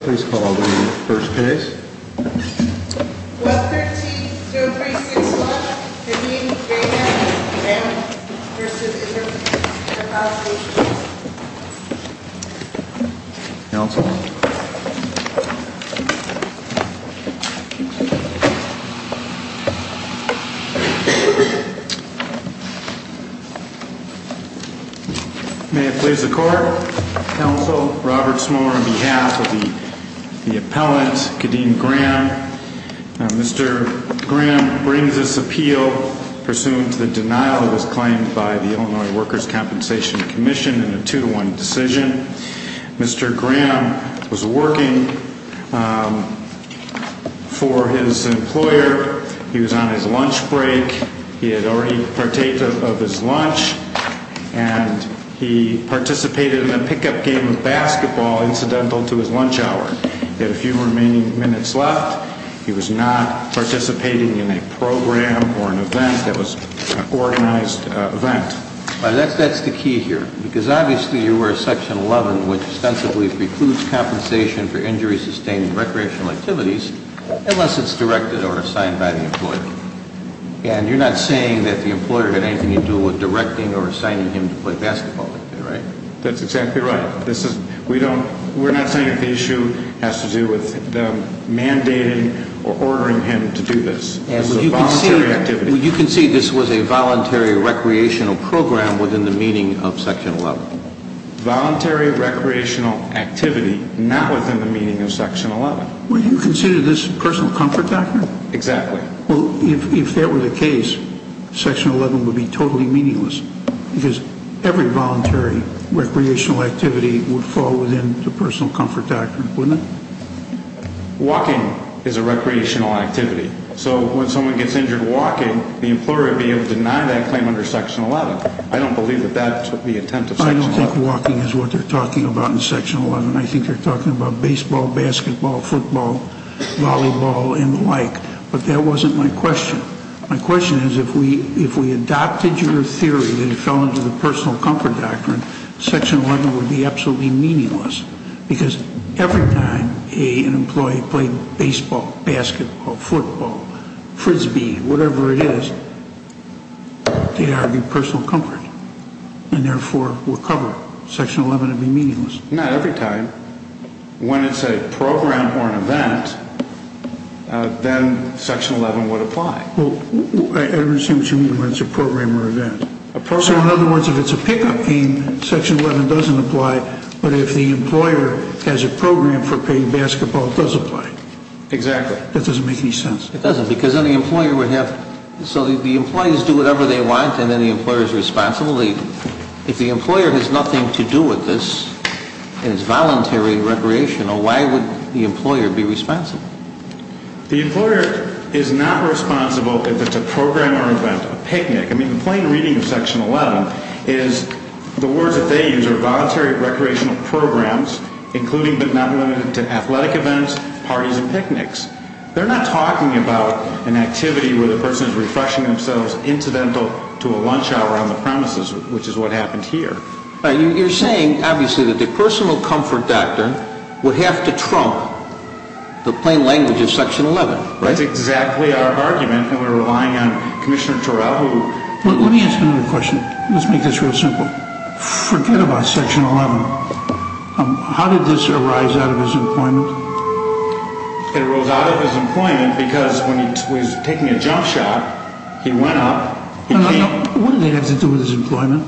Please call the first case. 113-0361, Hedin, Gaynor v. Interpol. Counsel. May it please the Court. Counsel, Robert Smaller, on behalf of the appellant, Kadeem Graham. Mr. Graham brings this appeal pursuant to the denial of his claim by the Illinois Workers' Compensation Commission in a two-to-one decision. Mr. Graham was working for his employer. He was on his lunch break. He had already partaken of his lunch. And he participated in a pickup game of basketball incidental to his lunch hour. He had a few remaining minutes left. He was not participating in a program or an event that was an organized event. That's the key here. Because obviously you were Section 11, which ostensibly precludes compensation for injuries sustained in recreational activities unless it's directed or assigned by the employer. And you're not saying that the employer had anything to do with directing or assigning him to play basketball, right? That's exactly right. We're not saying that the issue has to do with them mandating or ordering him to do this. This is a voluntary activity. You can see this was a voluntary recreational program within the meaning of Section 11. Voluntary recreational activity, not within the meaning of Section 11. Would you consider this personal comfort, doctor? Exactly. Well, if that were the case, Section 11 would be totally meaningless. Because every voluntary recreational activity would fall within the personal comfort doctrine, wouldn't it? Walking is a recreational activity. So when someone gets injured walking, the employer would be able to deny that claim under Section 11. I don't believe that that's the intent of Section 11. I don't think walking is what they're talking about in Section 11. I think they're talking about baseball, basketball, football, volleyball, and the like. But that wasn't my question. My question is if we adopted your theory that it fell into the personal comfort doctrine, Section 11 would be absolutely meaningless. Because every time an employee played baseball, basketball, football, frisbee, whatever it is, they'd argue personal comfort, and therefore would cover it. Section 11 would be meaningless. Not every time. When it's a program or an event, then Section 11 would apply. I don't understand what you mean when it's a program or event. So in other words, if it's a pickup game, Section 11 doesn't apply. But if the employer has a program for playing basketball, it does apply. Exactly. That doesn't make any sense. It doesn't. Because then the employer would have to do whatever they want, and then the employer is responsible. If the employer has nothing to do with this and is voluntary recreational, why would the employer be responsible? The employer is not responsible if it's a program or event, a picnic. I mean, the plain reading of Section 11 is the words that they use are voluntary recreational programs, including but not limited to athletic events, parties, and picnics. They're not talking about an activity where the person is refreshing themselves incidental to a lunch hour on the premises, which is what happened here. You're saying, obviously, that the personal comfort doctrine would have to trump the plain language of Section 11, right? That's exactly our argument when we're relying on Commissioner Turrell, who... Let me ask him a question. Let's make this real simple. Forget about Section 11. How did this arise out of his employment? It arose out of his employment because when he was taking a jump shot, he went up... No, no, no. What did that have to do with his employment?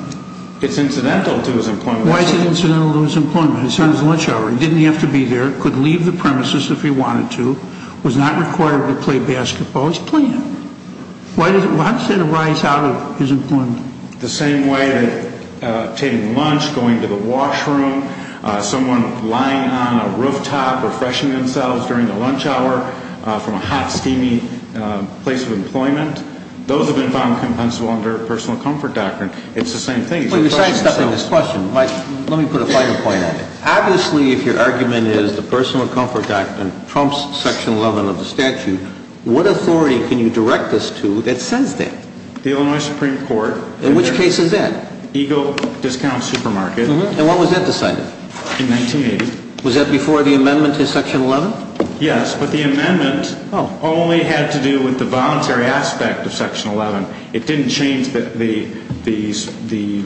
It's incidental to his employment. Why is it incidental to his employment? He's having his lunch hour. He didn't have to be there. He could leave the premises if he wanted to. He was not required to play basketball. He was playing. Why does it arise out of his employment? The same way that taking lunch, going to the washroom, someone lying on a rooftop, refreshing themselves during the lunch hour from a hot, steamy place of employment, those have been found compensable under personal comfort doctrine. It's the same thing. Let me put a final point on it. Obviously, if your argument is the personal comfort doctrine trumps Section 11 of the statute, what authority can you direct us to that says that? The Illinois Supreme Court. In which case is that? Eagle Discount Supermarket. And when was that decided? In 1980. Was that before the amendment to Section 11? Yes, but the amendment only had to do with the voluntary aspect of Section 11. It didn't change the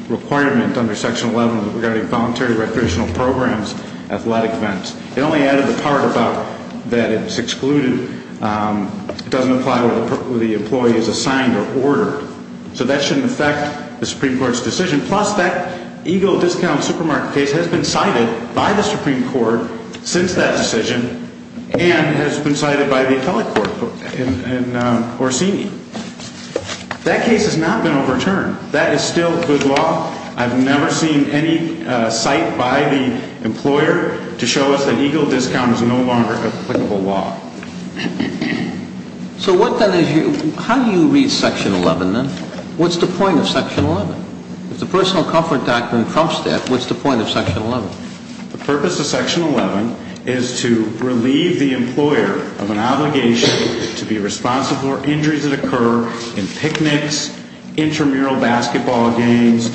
requirement under Section 11 regarding voluntary recreational programs, athletic events. It only added the part about that it's excluded. It doesn't apply where the employee is assigned or ordered. So that shouldn't affect the Supreme Court's decision. Plus, that Eagle Discount Supermarket case has been cited by the Supreme Court since that decision and has been cited by the appellate court in Orsini. That case has not been overturned. That is still good law. I've never seen any cite by the employer to show us that Eagle Discount is no longer applicable law. So how do you read Section 11 then? What's the point of Section 11? If the personal comfort doctrine trumps that, what's the point of Section 11? The purpose of Section 11 is to relieve the employer of an obligation to be responsible for injuries that occur in picnics, intramural basketball games,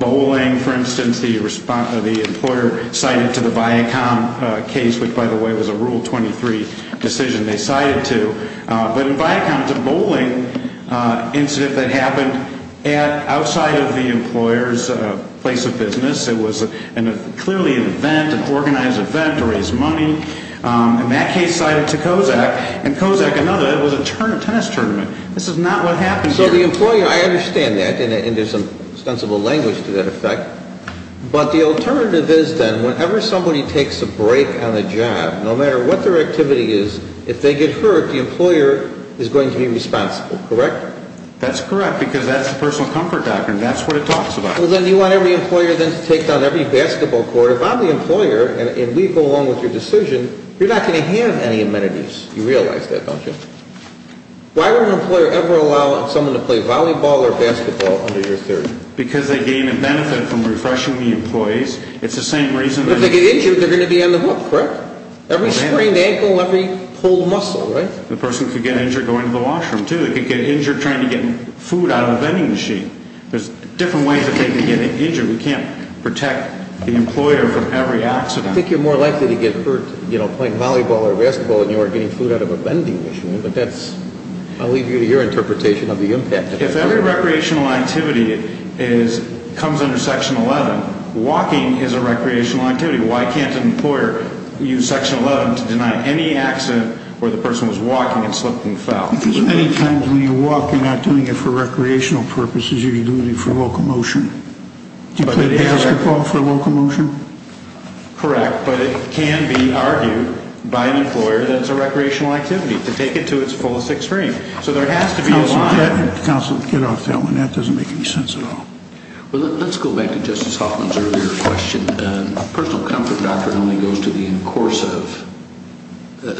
bowling, for instance. The employer cited to the Viacom case, which, by the way, was a Rule 23 decision they cited to. But in Viacom, it's a bowling incident that happened outside of the employer's place of business. It was clearly an event, an organized event to raise money. And that case cited to COSAC. And COSAC, another, it was a tennis tournament. This is not what happened here. So the employer, I understand that, and there's some sensible language to that effect. But the alternative is then whenever somebody takes a break on a job, no matter what their activity is, if they get hurt, the employer is going to be responsible, correct? That's correct, because that's the personal comfort doctrine. That's what it talks about. Well, then you want every employer then to take down every basketball court. If I'm the employer and we go along with your decision, you're not going to have any amenities. You realize that, don't you? Why would an employer ever allow someone to play volleyball or basketball under your theory? Because they gain a benefit from refreshing the employees. It's the same reason. If they get injured, they're going to be on the hook, correct? Every sprained ankle, every pulled muscle, right? The person could get injured going to the washroom, too. They could get injured trying to get food out of a vending machine. There's different ways that they could get injured. We can't protect the employer from every accident. I think you're more likely to get hurt playing volleyball or basketball than you are getting food out of a vending machine, but I'll leave you to your interpretation of the impact. If every recreational activity comes under Section 11, walking is a recreational activity. Why can't an employer use Section 11 to deny any accident where the person was walking and slipped and fell? Many times when you walk, you're not doing it for recreational purposes. You're doing it for locomotion. Do you play basketball for locomotion? Correct, but it can be argued by an employer that it's a recreational activity to take it to its fullest extreme. So there has to be a line. Counsel, get off that one. That doesn't make any sense at all. Let's go back to Justice Hoffman's earlier question. Personal comfort doctrine only goes to the in course of.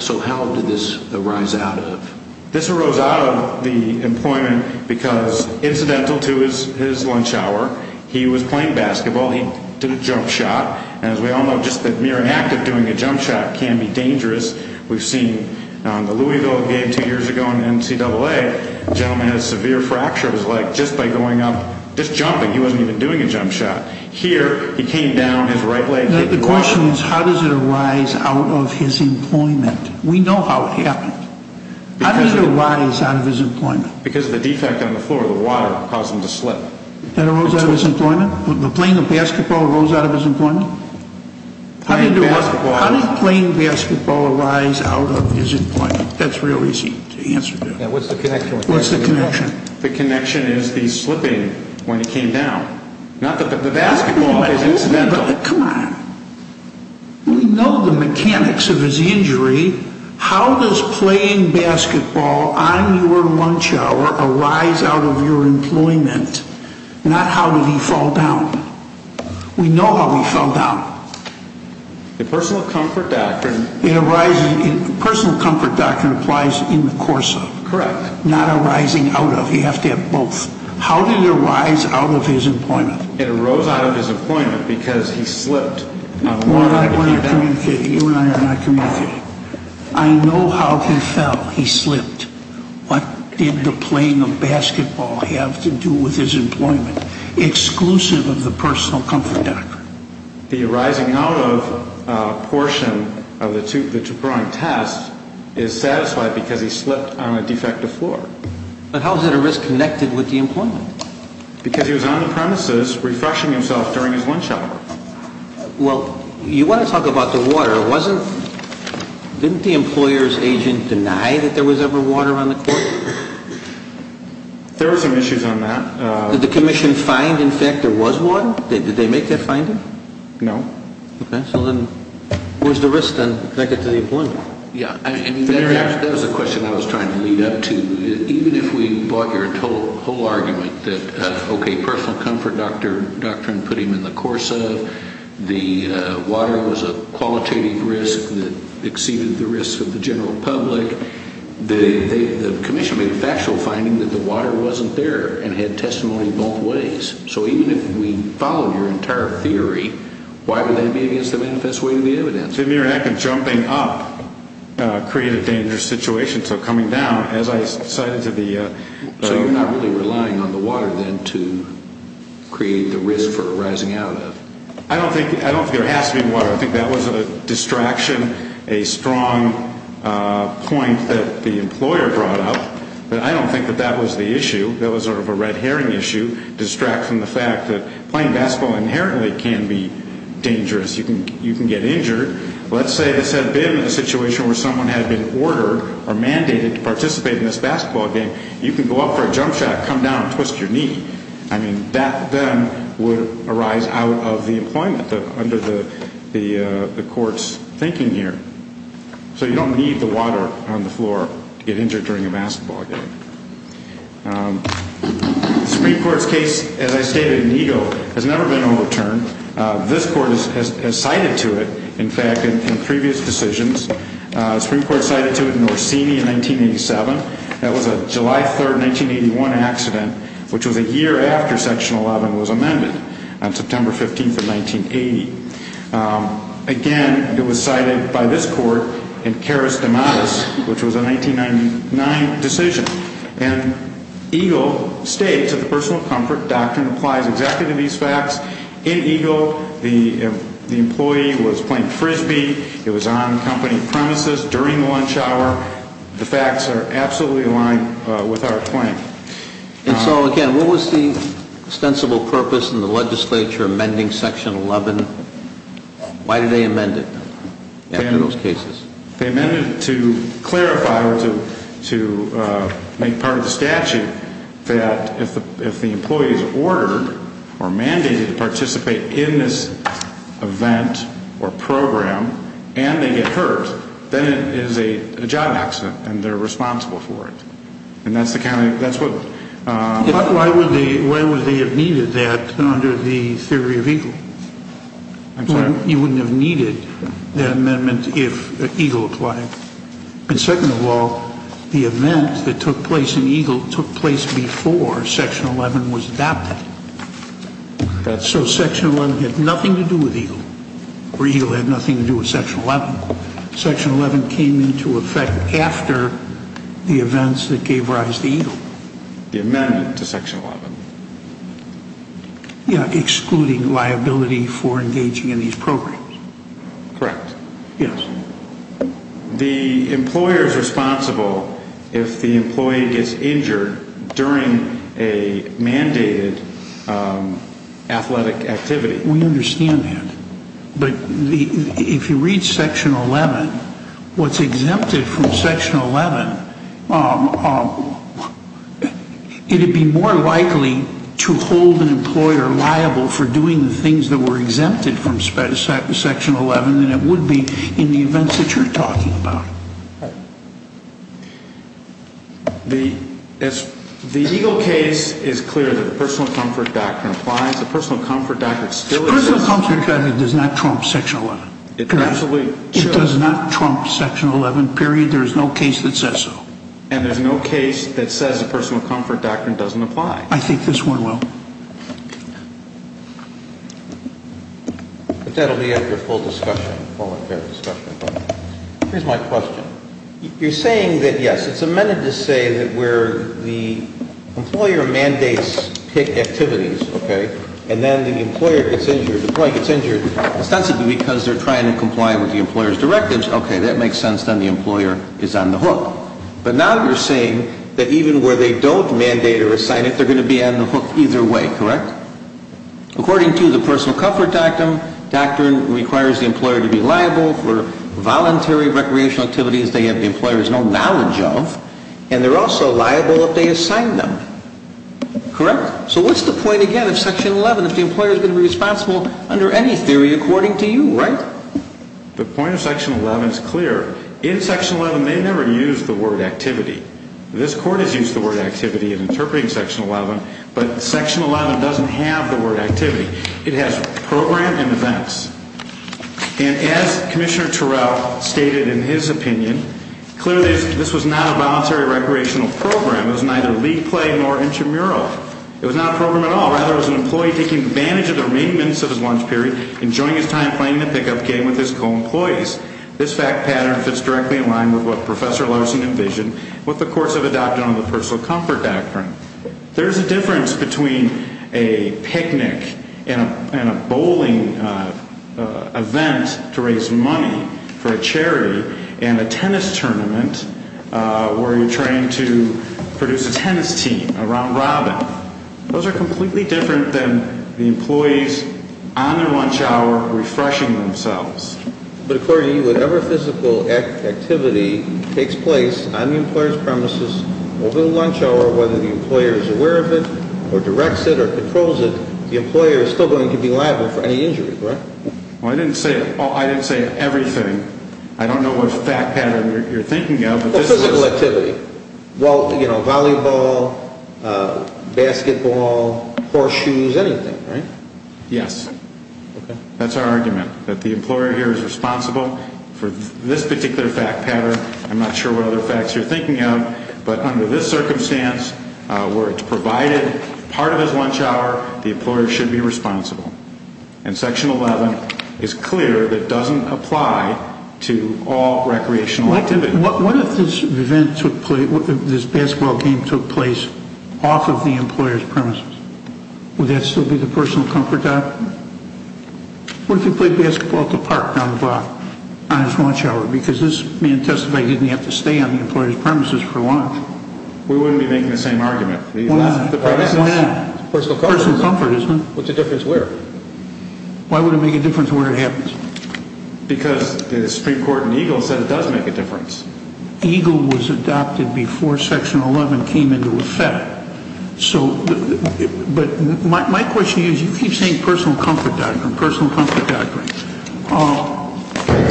So how did this arise out of? This arose out of the employment because, incidental to his lunch hour, he was playing basketball, he did a jump shot, and as we all know just the mere act of doing a jump shot can be dangerous. We've seen the Louisville game two years ago in the NCAA. The gentleman had a severe fracture of his leg just by going up, just jumping. He wasn't even doing a jump shot. Here, he came down, his right leg hit the ground. The question is how does it arise out of his employment? We know how it happened. How did it arise out of his employment? Because of the defect on the floor, the water caused him to slip. That arose out of his employment? The playing of basketball arose out of his employment? How did playing basketball arise out of his employment? That's real easy to answer. What's the connection? What's the connection? The connection is the slipping when he came down. Not that the basketball is incidental. Come on. We know the mechanics of his injury. How does playing basketball on your lunch hour arise out of your employment? Not how did he fall down. We know how he fell down. The personal comfort doctrine. Personal comfort doctrine applies in the course of. Correct. Not arising out of. You have to have both. How did it arise out of his employment? It arose out of his employment because he slipped. You and I are not communicating. I know how he fell. He slipped. What did the playing of basketball have to do with his employment? Exclusive of the personal comfort doctrine. The arising out of portion of the tuberonic test is satisfied because he slipped on a defective floor. But how is it a risk connected with the employment? Because he was on the premises refreshing himself during his lunch hour. Well, you want to talk about the water. Didn't the employer's agent deny that there was ever water on the court? There were some issues on that. Did the commission find, in fact, there was water? Did they make that finding? No. Okay. So then where's the risk then connected to the employment? Yeah. That was a question I was trying to lead up to. Even if we brought your whole argument that, okay, personal comfort doctrine put him in the course of, the water was a qualitative risk that exceeded the risk of the general public, the commission made a factual finding that the water wasn't there and had testimony both ways. So even if we followed your entire theory, why would that be against the manifest way of the evidence? The mere act of jumping up created a dangerous situation. So coming down, as I cited to the- So you're not really relying on the water then to create the risk for rising out of? I don't think there has to be water. I think that was a distraction, a strong point that the employer brought up. But I don't think that that was the issue. That was sort of a red herring issue, distracting the fact that playing basketball inherently can be dangerous. You can get injured. Let's say this had been a situation where someone had been ordered or mandated to participate in this basketball game. You can go up for a jump shot, come down and twist your knee. I mean, that then would arise out of the employment under the court's thinking here. So you don't need the water on the floor to get injured during a basketball game. The Supreme Court's case, as I stated, in Ego, has never been overturned. This court has cited to it, in fact, in previous decisions. The Supreme Court cited to it in Orsini in 1987. That was a July 3, 1981 accident, which was a year after Section 11 was amended on September 15 of 1980. Again, it was cited by this court in Caris De Matis, which was a 1999 decision. And Ego states that the personal comfort doctrine applies exactly to these facts. In Ego, the employee was playing Frisbee. It was on company premises during the lunch hour. The facts are absolutely aligned with our claim. And so, again, what was the ostensible purpose in the legislature amending Section 11? Why did they amend it after those cases? They amended it to clarify or to make part of the statute that if the employee is ordered or mandated to participate in this event or program and they get hurt, then it is a job accident and they're responsible for it. And that's the kind of – that's what – But why would they have needed that under the theory of Ego? I'm sorry? You wouldn't have needed that amendment if Ego applied. And second of all, the event that took place in Ego took place before Section 11 was adopted. So Section 11 had nothing to do with Ego, or Ego had nothing to do with Section 11. Section 11 came into effect after the events that gave rise to Ego. The amendment to Section 11. Yeah, excluding liability for engaging in these programs. Correct. Yes. The employer is responsible if the employee gets injured during a mandated athletic activity. We understand that. But if you read Section 11, what's exempted from Section 11, it would be more likely to hold an employer liable for doing the things that were exempted from Section 11 than it would be in the events that you're talking about. The Ego case is clear that the personal comfort doctrine applies. The personal comfort doctrine still exists. The personal comfort doctrine does not trump Section 11. Correct. It does not trump Section 11, period. There is no case that says so. And there's no case that says the personal comfort doctrine doesn't apply. I think this one will. But that will be after a full discussion, a full and fair discussion. Here's my question. You're saying that, yes, it's amended to say that where the employer mandates activities, okay, and then the employer gets injured, the employee gets injured. It's not simply because they're trying to comply with the employer's directives. Okay, that makes sense. Then the employer is on the hook. But now you're saying that even where they don't mandate or assign it, they're going to be on the hook either way, correct? According to the personal comfort doctrine, it requires the employer to be liable for voluntary recreational activities they have the employer's no knowledge of, and they're also liable if they assign them. Correct? So what's the point, again, of Section 11 if the employer is going to be responsible under any theory according to you, right? The point of Section 11 is clear. In Section 11, they never use the word activity. This Court has used the word activity in interpreting Section 11, but Section 11 doesn't have the word activity. It has program and events. And as Commissioner Turrell stated in his opinion, clearly this was not a voluntary recreational program. It was neither league play nor intramural. It was not a program at all. Rather, it was an employee taking advantage of the remaining minutes of his lunch period, enjoying his time playing the pickup game with his co-employees. This fact pattern fits directly in line with what Professor Larson envisioned and what the courts have adopted under the personal comfort doctrine. There's a difference between a picnic and a bowling event to raise money for a charity and a tennis tournament where you're trying to produce a tennis team around Robin. Those are completely different than the employees on their lunch hour refreshing themselves. But according to you, whatever physical activity takes place on the employer's premises over the lunch hour, whether the employer is aware of it or directs it or controls it, the employer is still going to be liable for any injury, correct? Well, I didn't say everything. I don't know what fact pattern you're thinking of. Physical activity. Well, you know, volleyball, basketball, horseshoes, anything, right? Yes. Okay. That's our argument, that the employer here is responsible for this particular fact pattern. I'm not sure what other facts you're thinking of. But under this circumstance, where it's provided part of his lunch hour, the employer should be responsible. And Section 11 is clear that it doesn't apply to all recreational activity. What if this basketball game took place off of the employer's premises? Would that still be the personal comfort? What if he played basketball at the park on his lunch hour? Because this man testified he didn't have to stay on the employer's premises for lunch. We wouldn't be making the same argument. Why not? Personal comfort, isn't it? What's the difference where? Why would it make a difference where it happens? Because the Supreme Court in Eagle said it does make a difference. Eagle was adopted before Section 11 came into effect. But my question to you is, you keep saying personal comfort doctrine, personal comfort doctrine.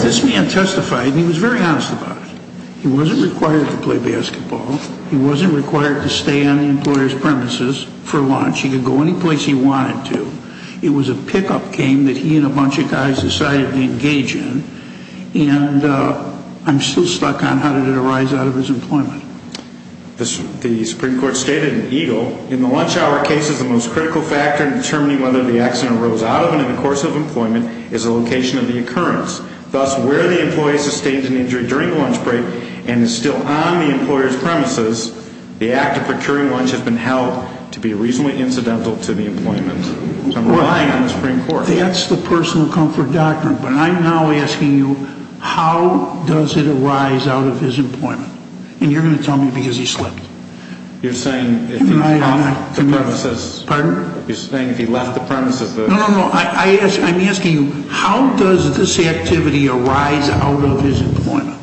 This man testified, and he was very honest about it. He wasn't required to play basketball. He wasn't required to stay on the employer's premises for lunch. He could go any place he wanted to. It was a pickup game that he and a bunch of guys decided to engage in. And I'm still stuck on how did it arise out of his employment. The Supreme Court stated in Eagle, in the lunch hour case, the most critical factor in determining whether the accident arose out of and in the course of employment is the location of the occurrence. Thus, where the employee sustained an injury during the lunch break and is still on the employer's premises, the act of procuring lunch has been held to be reasonably incidental to the employment. I'm relying on the Supreme Court. That's the personal comfort doctrine. But I'm now asking you, how does it arise out of his employment? And you're going to tell me because he slipped. You're saying if he left the premises. Pardon? You're saying if he left the premises. No, no, no. I'm asking you, how does this activity arise out of his employment?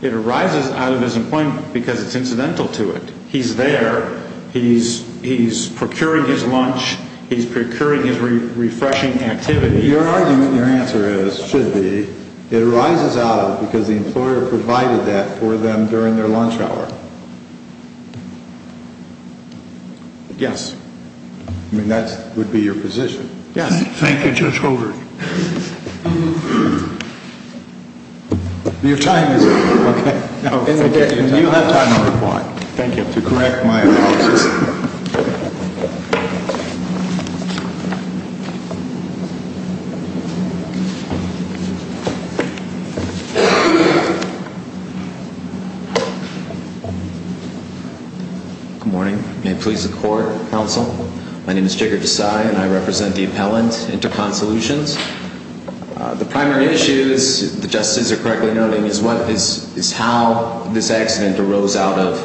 It arises out of his employment because it's incidental to it. He's there. He's procuring his lunch. He's procuring his refreshing activity. Your argument and your answer is, should be, it arises out of because the employer provided that for them during their lunch hour. Yes. I mean, that would be your position. Yes. Thank you, Judge Holder. Your time is up. Okay. You have time to reply. Thank you. To correct my apologies. Good morning. May it please the court, counsel. My name is Jigar Desai, and I represent the appellant, Intercon Solutions. The primary issue, as the justices are correctly noting, is how this accident arose out of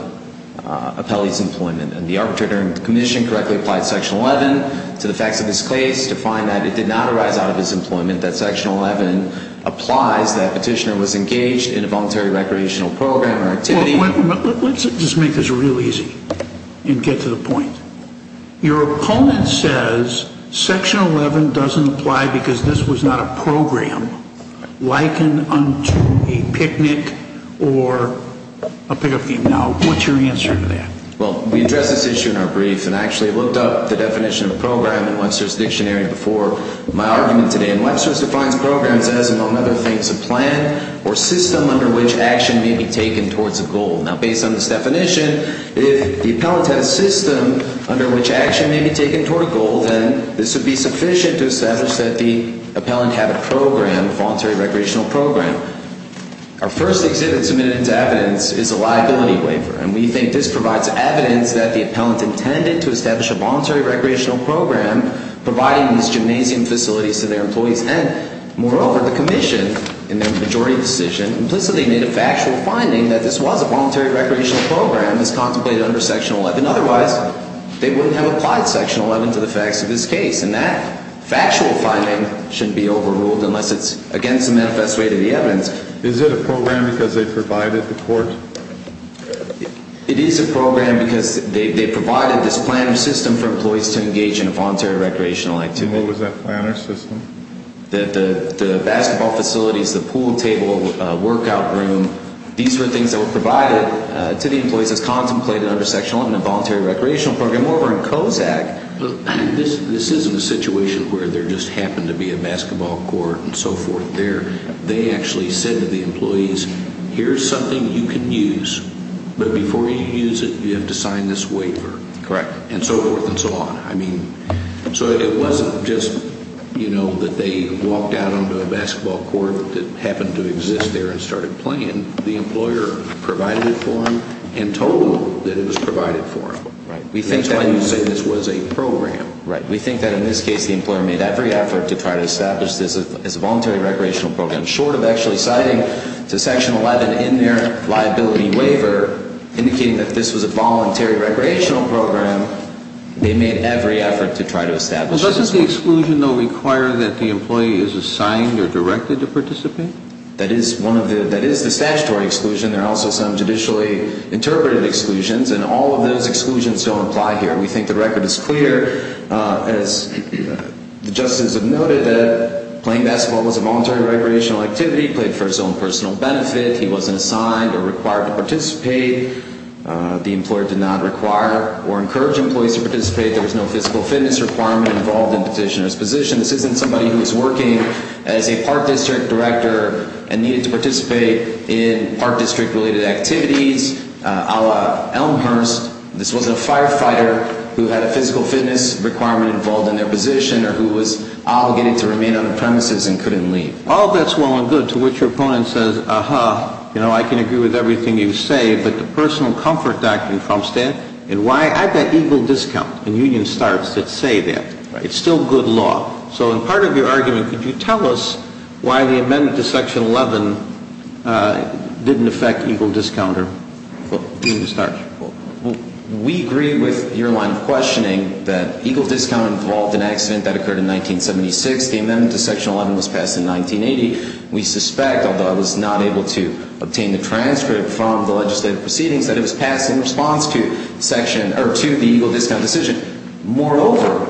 Appelli's employment. And the arbitrator in the commission correctly applied Section 11 to the facts of this case to find that it did not arise out of his employment, that Section 11 applies that petitioner was engaged in a voluntary recreational program or activity. Let's just make this real easy and get to the point. Your opponent says Section 11 doesn't apply because this was not a program like a picnic or a pickup game. Now, what's your answer to that? Well, we addressed this issue in our brief, and I actually looked up the definition of program in Webster's dictionary before my argument today. And Webster's defines programs as, among other things, a plan or system under which action may be taken towards a goal. Now, based on this definition, if the appellant had a system under which action may be taken towards a goal, then this would be sufficient to establish that the appellant had a program, a voluntary recreational program. Our first exhibit submitted into evidence is a liability waiver. And we think this provides evidence that the appellant intended to establish a voluntary recreational program, providing these gymnasium facilities to their employees. And, moreover, the commission, in their majority decision, implicitly made a factual finding that this was a voluntary recreational program as contemplated under Section 11. Otherwise, they wouldn't have applied Section 11 to the facts of this case. And that factual finding shouldn't be overruled unless it's against the manifest way to the evidence. Is it a program because they provided the court? It is a program because they provided this plan or system for employees to engage in a voluntary recreational activity. And what was that plan or system? The basketball facilities, the pool table, workout room, these were things that were provided to the employees as contemplated under Section 11, a voluntary recreational program. Moreover, in Kozak, this isn't a situation where there just happened to be a basketball court and so forth there. They actually said to the employees, here's something you can use, but before you use it, you have to sign this waiver. Correct. And so forth and so on. So it wasn't just that they walked out onto a basketball court that happened to exist there and started playing. The employer provided it for them and told them that it was provided for them. Right. That's why you say this was a program. Right. We think that in this case, the employer made every effort to try to establish this as a voluntary recreational program. Short of actually citing to Section 11 in their liability waiver, indicating that this was a voluntary recreational program, they made every effort to try to establish this. Doesn't the exclusion, though, require that the employee is assigned or directed to participate? That is the statutory exclusion. There are also some judicially interpreted exclusions, and all of those exclusions don't apply here. We think the record is clear. As the justices have noted, that playing basketball was a voluntary recreational activity, played for its own personal benefit. He wasn't assigned or required to participate. The employer did not require or encourage employees to participate. There was no physical fitness requirement involved in the petitioner's position. This isn't somebody who was working as a park district director and needed to participate in park district-related activities, a la Elmhurst. This wasn't a firefighter who had a physical fitness requirement involved in their position or who was obligated to remain on the premises and couldn't leave. All that's well and good, to which your opponent says, aha, you know, I can agree with everything you say, but the personal comfort doctrine trumps that, and why? I bet Eagle Discount and Union Starts would say that. It's still good law. So in part of your argument, could you tell us why the amendment to Section 11 didn't affect Eagle Discount or Union Start? We agree with your line of questioning that Eagle Discount involved an accident that occurred in 1976. The amendment to Section 11 was passed in 1980. We suspect, although I was not able to obtain the transcript from the legislative proceedings, that it was passed in response to the Eagle Discount decision. Moreover,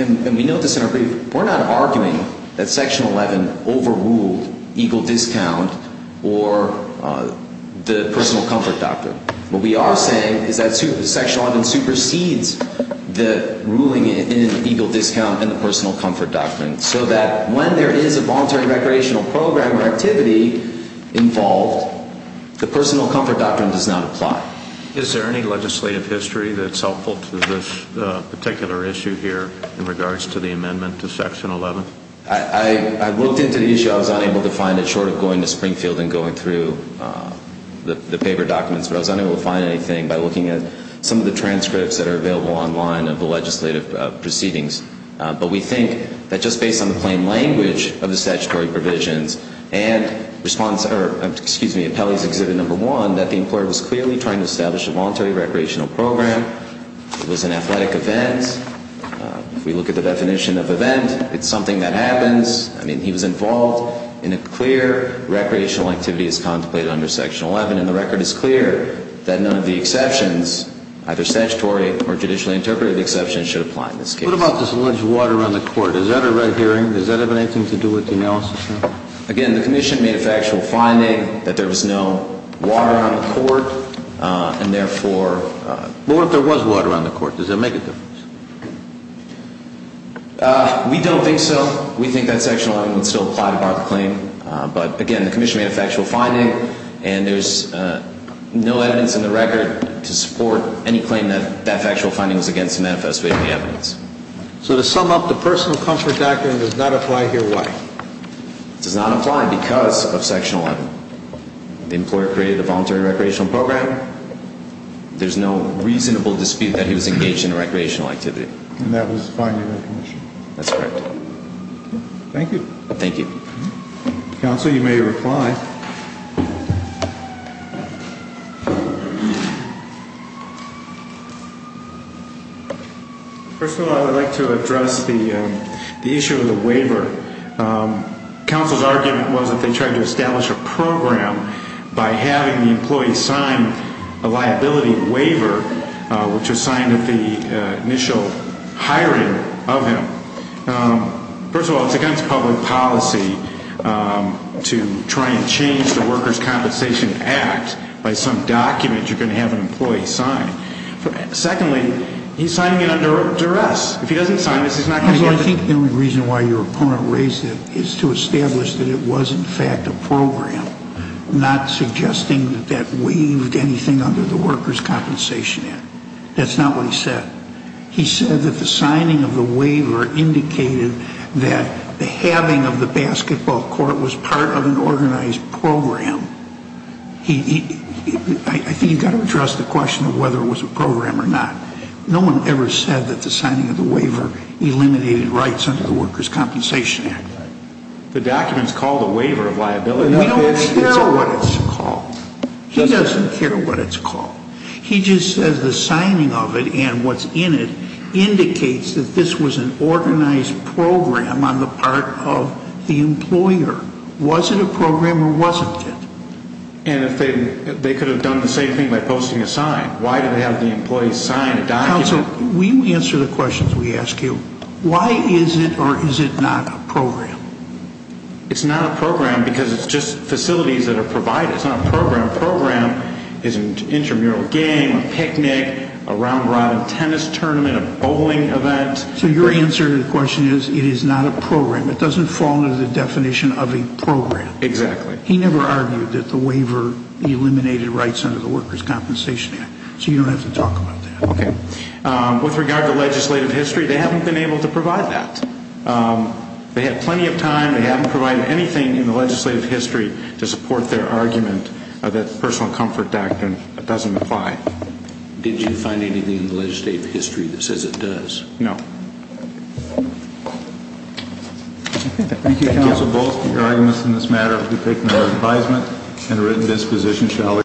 and we note this in our brief, we're not arguing that Section 11 overruled Eagle Discount or the personal comfort doctrine. What we are saying is that Section 11 supersedes the ruling in Eagle Discount and the personal comfort doctrine, so that when there is a voluntary recreational program or activity involved, the personal comfort doctrine does not apply. Is there any legislative history that's helpful to this particular issue here in regards to the amendment to Section 11? I looked into the issue. I was unable to find it, short of going to Springfield and going through the paper documents. But I was unable to find anything by looking at some of the transcripts that are available online of the legislative proceedings. But we think that just based on the plain language of the statutory provisions and Pelley's Exhibit No. 1, that the employer was clearly trying to establish a voluntary recreational program. It was an athletic event. If we look at the definition of event, it's something that happens. I mean, he was involved in a clear recreational activity as contemplated under Section 11, and the record is clear that none of the exceptions, either statutory or judicially interpreted exceptions, should apply in this case. What about this alleged water on the court? Is that a red herring? Does that have anything to do with the analysis, sir? Again, the commission made a factual finding that there was no water on the court, and therefore – But what if there was water on the court? Does that make a difference? We don't think so. We think that Section 11 would still apply to bar the claim. But again, the commission made a factual finding, and there's no evidence in the record to support any claim that that factual finding was against the manifest way of the evidence. So to sum up, the personal comfort doctrine does not apply here why? It does not apply because of Section 11. The employer created a voluntary recreational program. There's no reasonable dispute that he was engaged in a recreational activity. And that was the finding of the commission. That's correct. Thank you. Thank you. Counsel, you may reply. First of all, I would like to address the issue of the waiver. Counsel's argument was that they tried to establish a program by having the employee sign a liability waiver, which was signed at the initial hiring of him. First of all, it's against public policy to try and change the Workers' Compensation Act by some document you're going to have an employee sign. Secondly, he's signing it under duress. If he doesn't sign this, he's not going to get the – Counsel, I think the only reason why your opponent raised it is to establish that it was, in fact, a program, not suggesting that that waived anything under the Workers' Compensation Act. That's not what he said. He said that the signing of the waiver indicated that the having of the basketball court was part of an organized program. He – I think you've got to address the question of whether it was a program or not. No one ever said that the signing of the waiver eliminated rights under the Workers' Compensation Act. The document's called a waiver of liability. We don't care what it's called. He doesn't care what it's called. He just says the signing of it and what's in it indicates that this was an organized program on the part of the employer. Was it a program or wasn't it? And if they could have done the same thing by posting a sign, why do they have the employee sign a document? Counsel, we answer the questions we ask you. Why is it or is it not a program? It's not a program because it's just facilities that are provided. It's not a program. A program is an intramural game, a picnic, a round-robin tennis tournament, a bowling event. So your answer to the question is it is not a program. It doesn't fall under the definition of a program. Exactly. He never argued that the waiver eliminated rights under the Workers' Compensation Act, so you don't have to talk about that. Okay. With regard to legislative history, they haven't been able to provide that. They had plenty of time. They haven't provided anything in the legislative history to support their argument that the Personal Comfort Act doesn't apply. Did you find anything in the legislative history that says it does? No. Thank you, Counsel. Both the arguments in this matter have been taken under advisement and are at a disposition.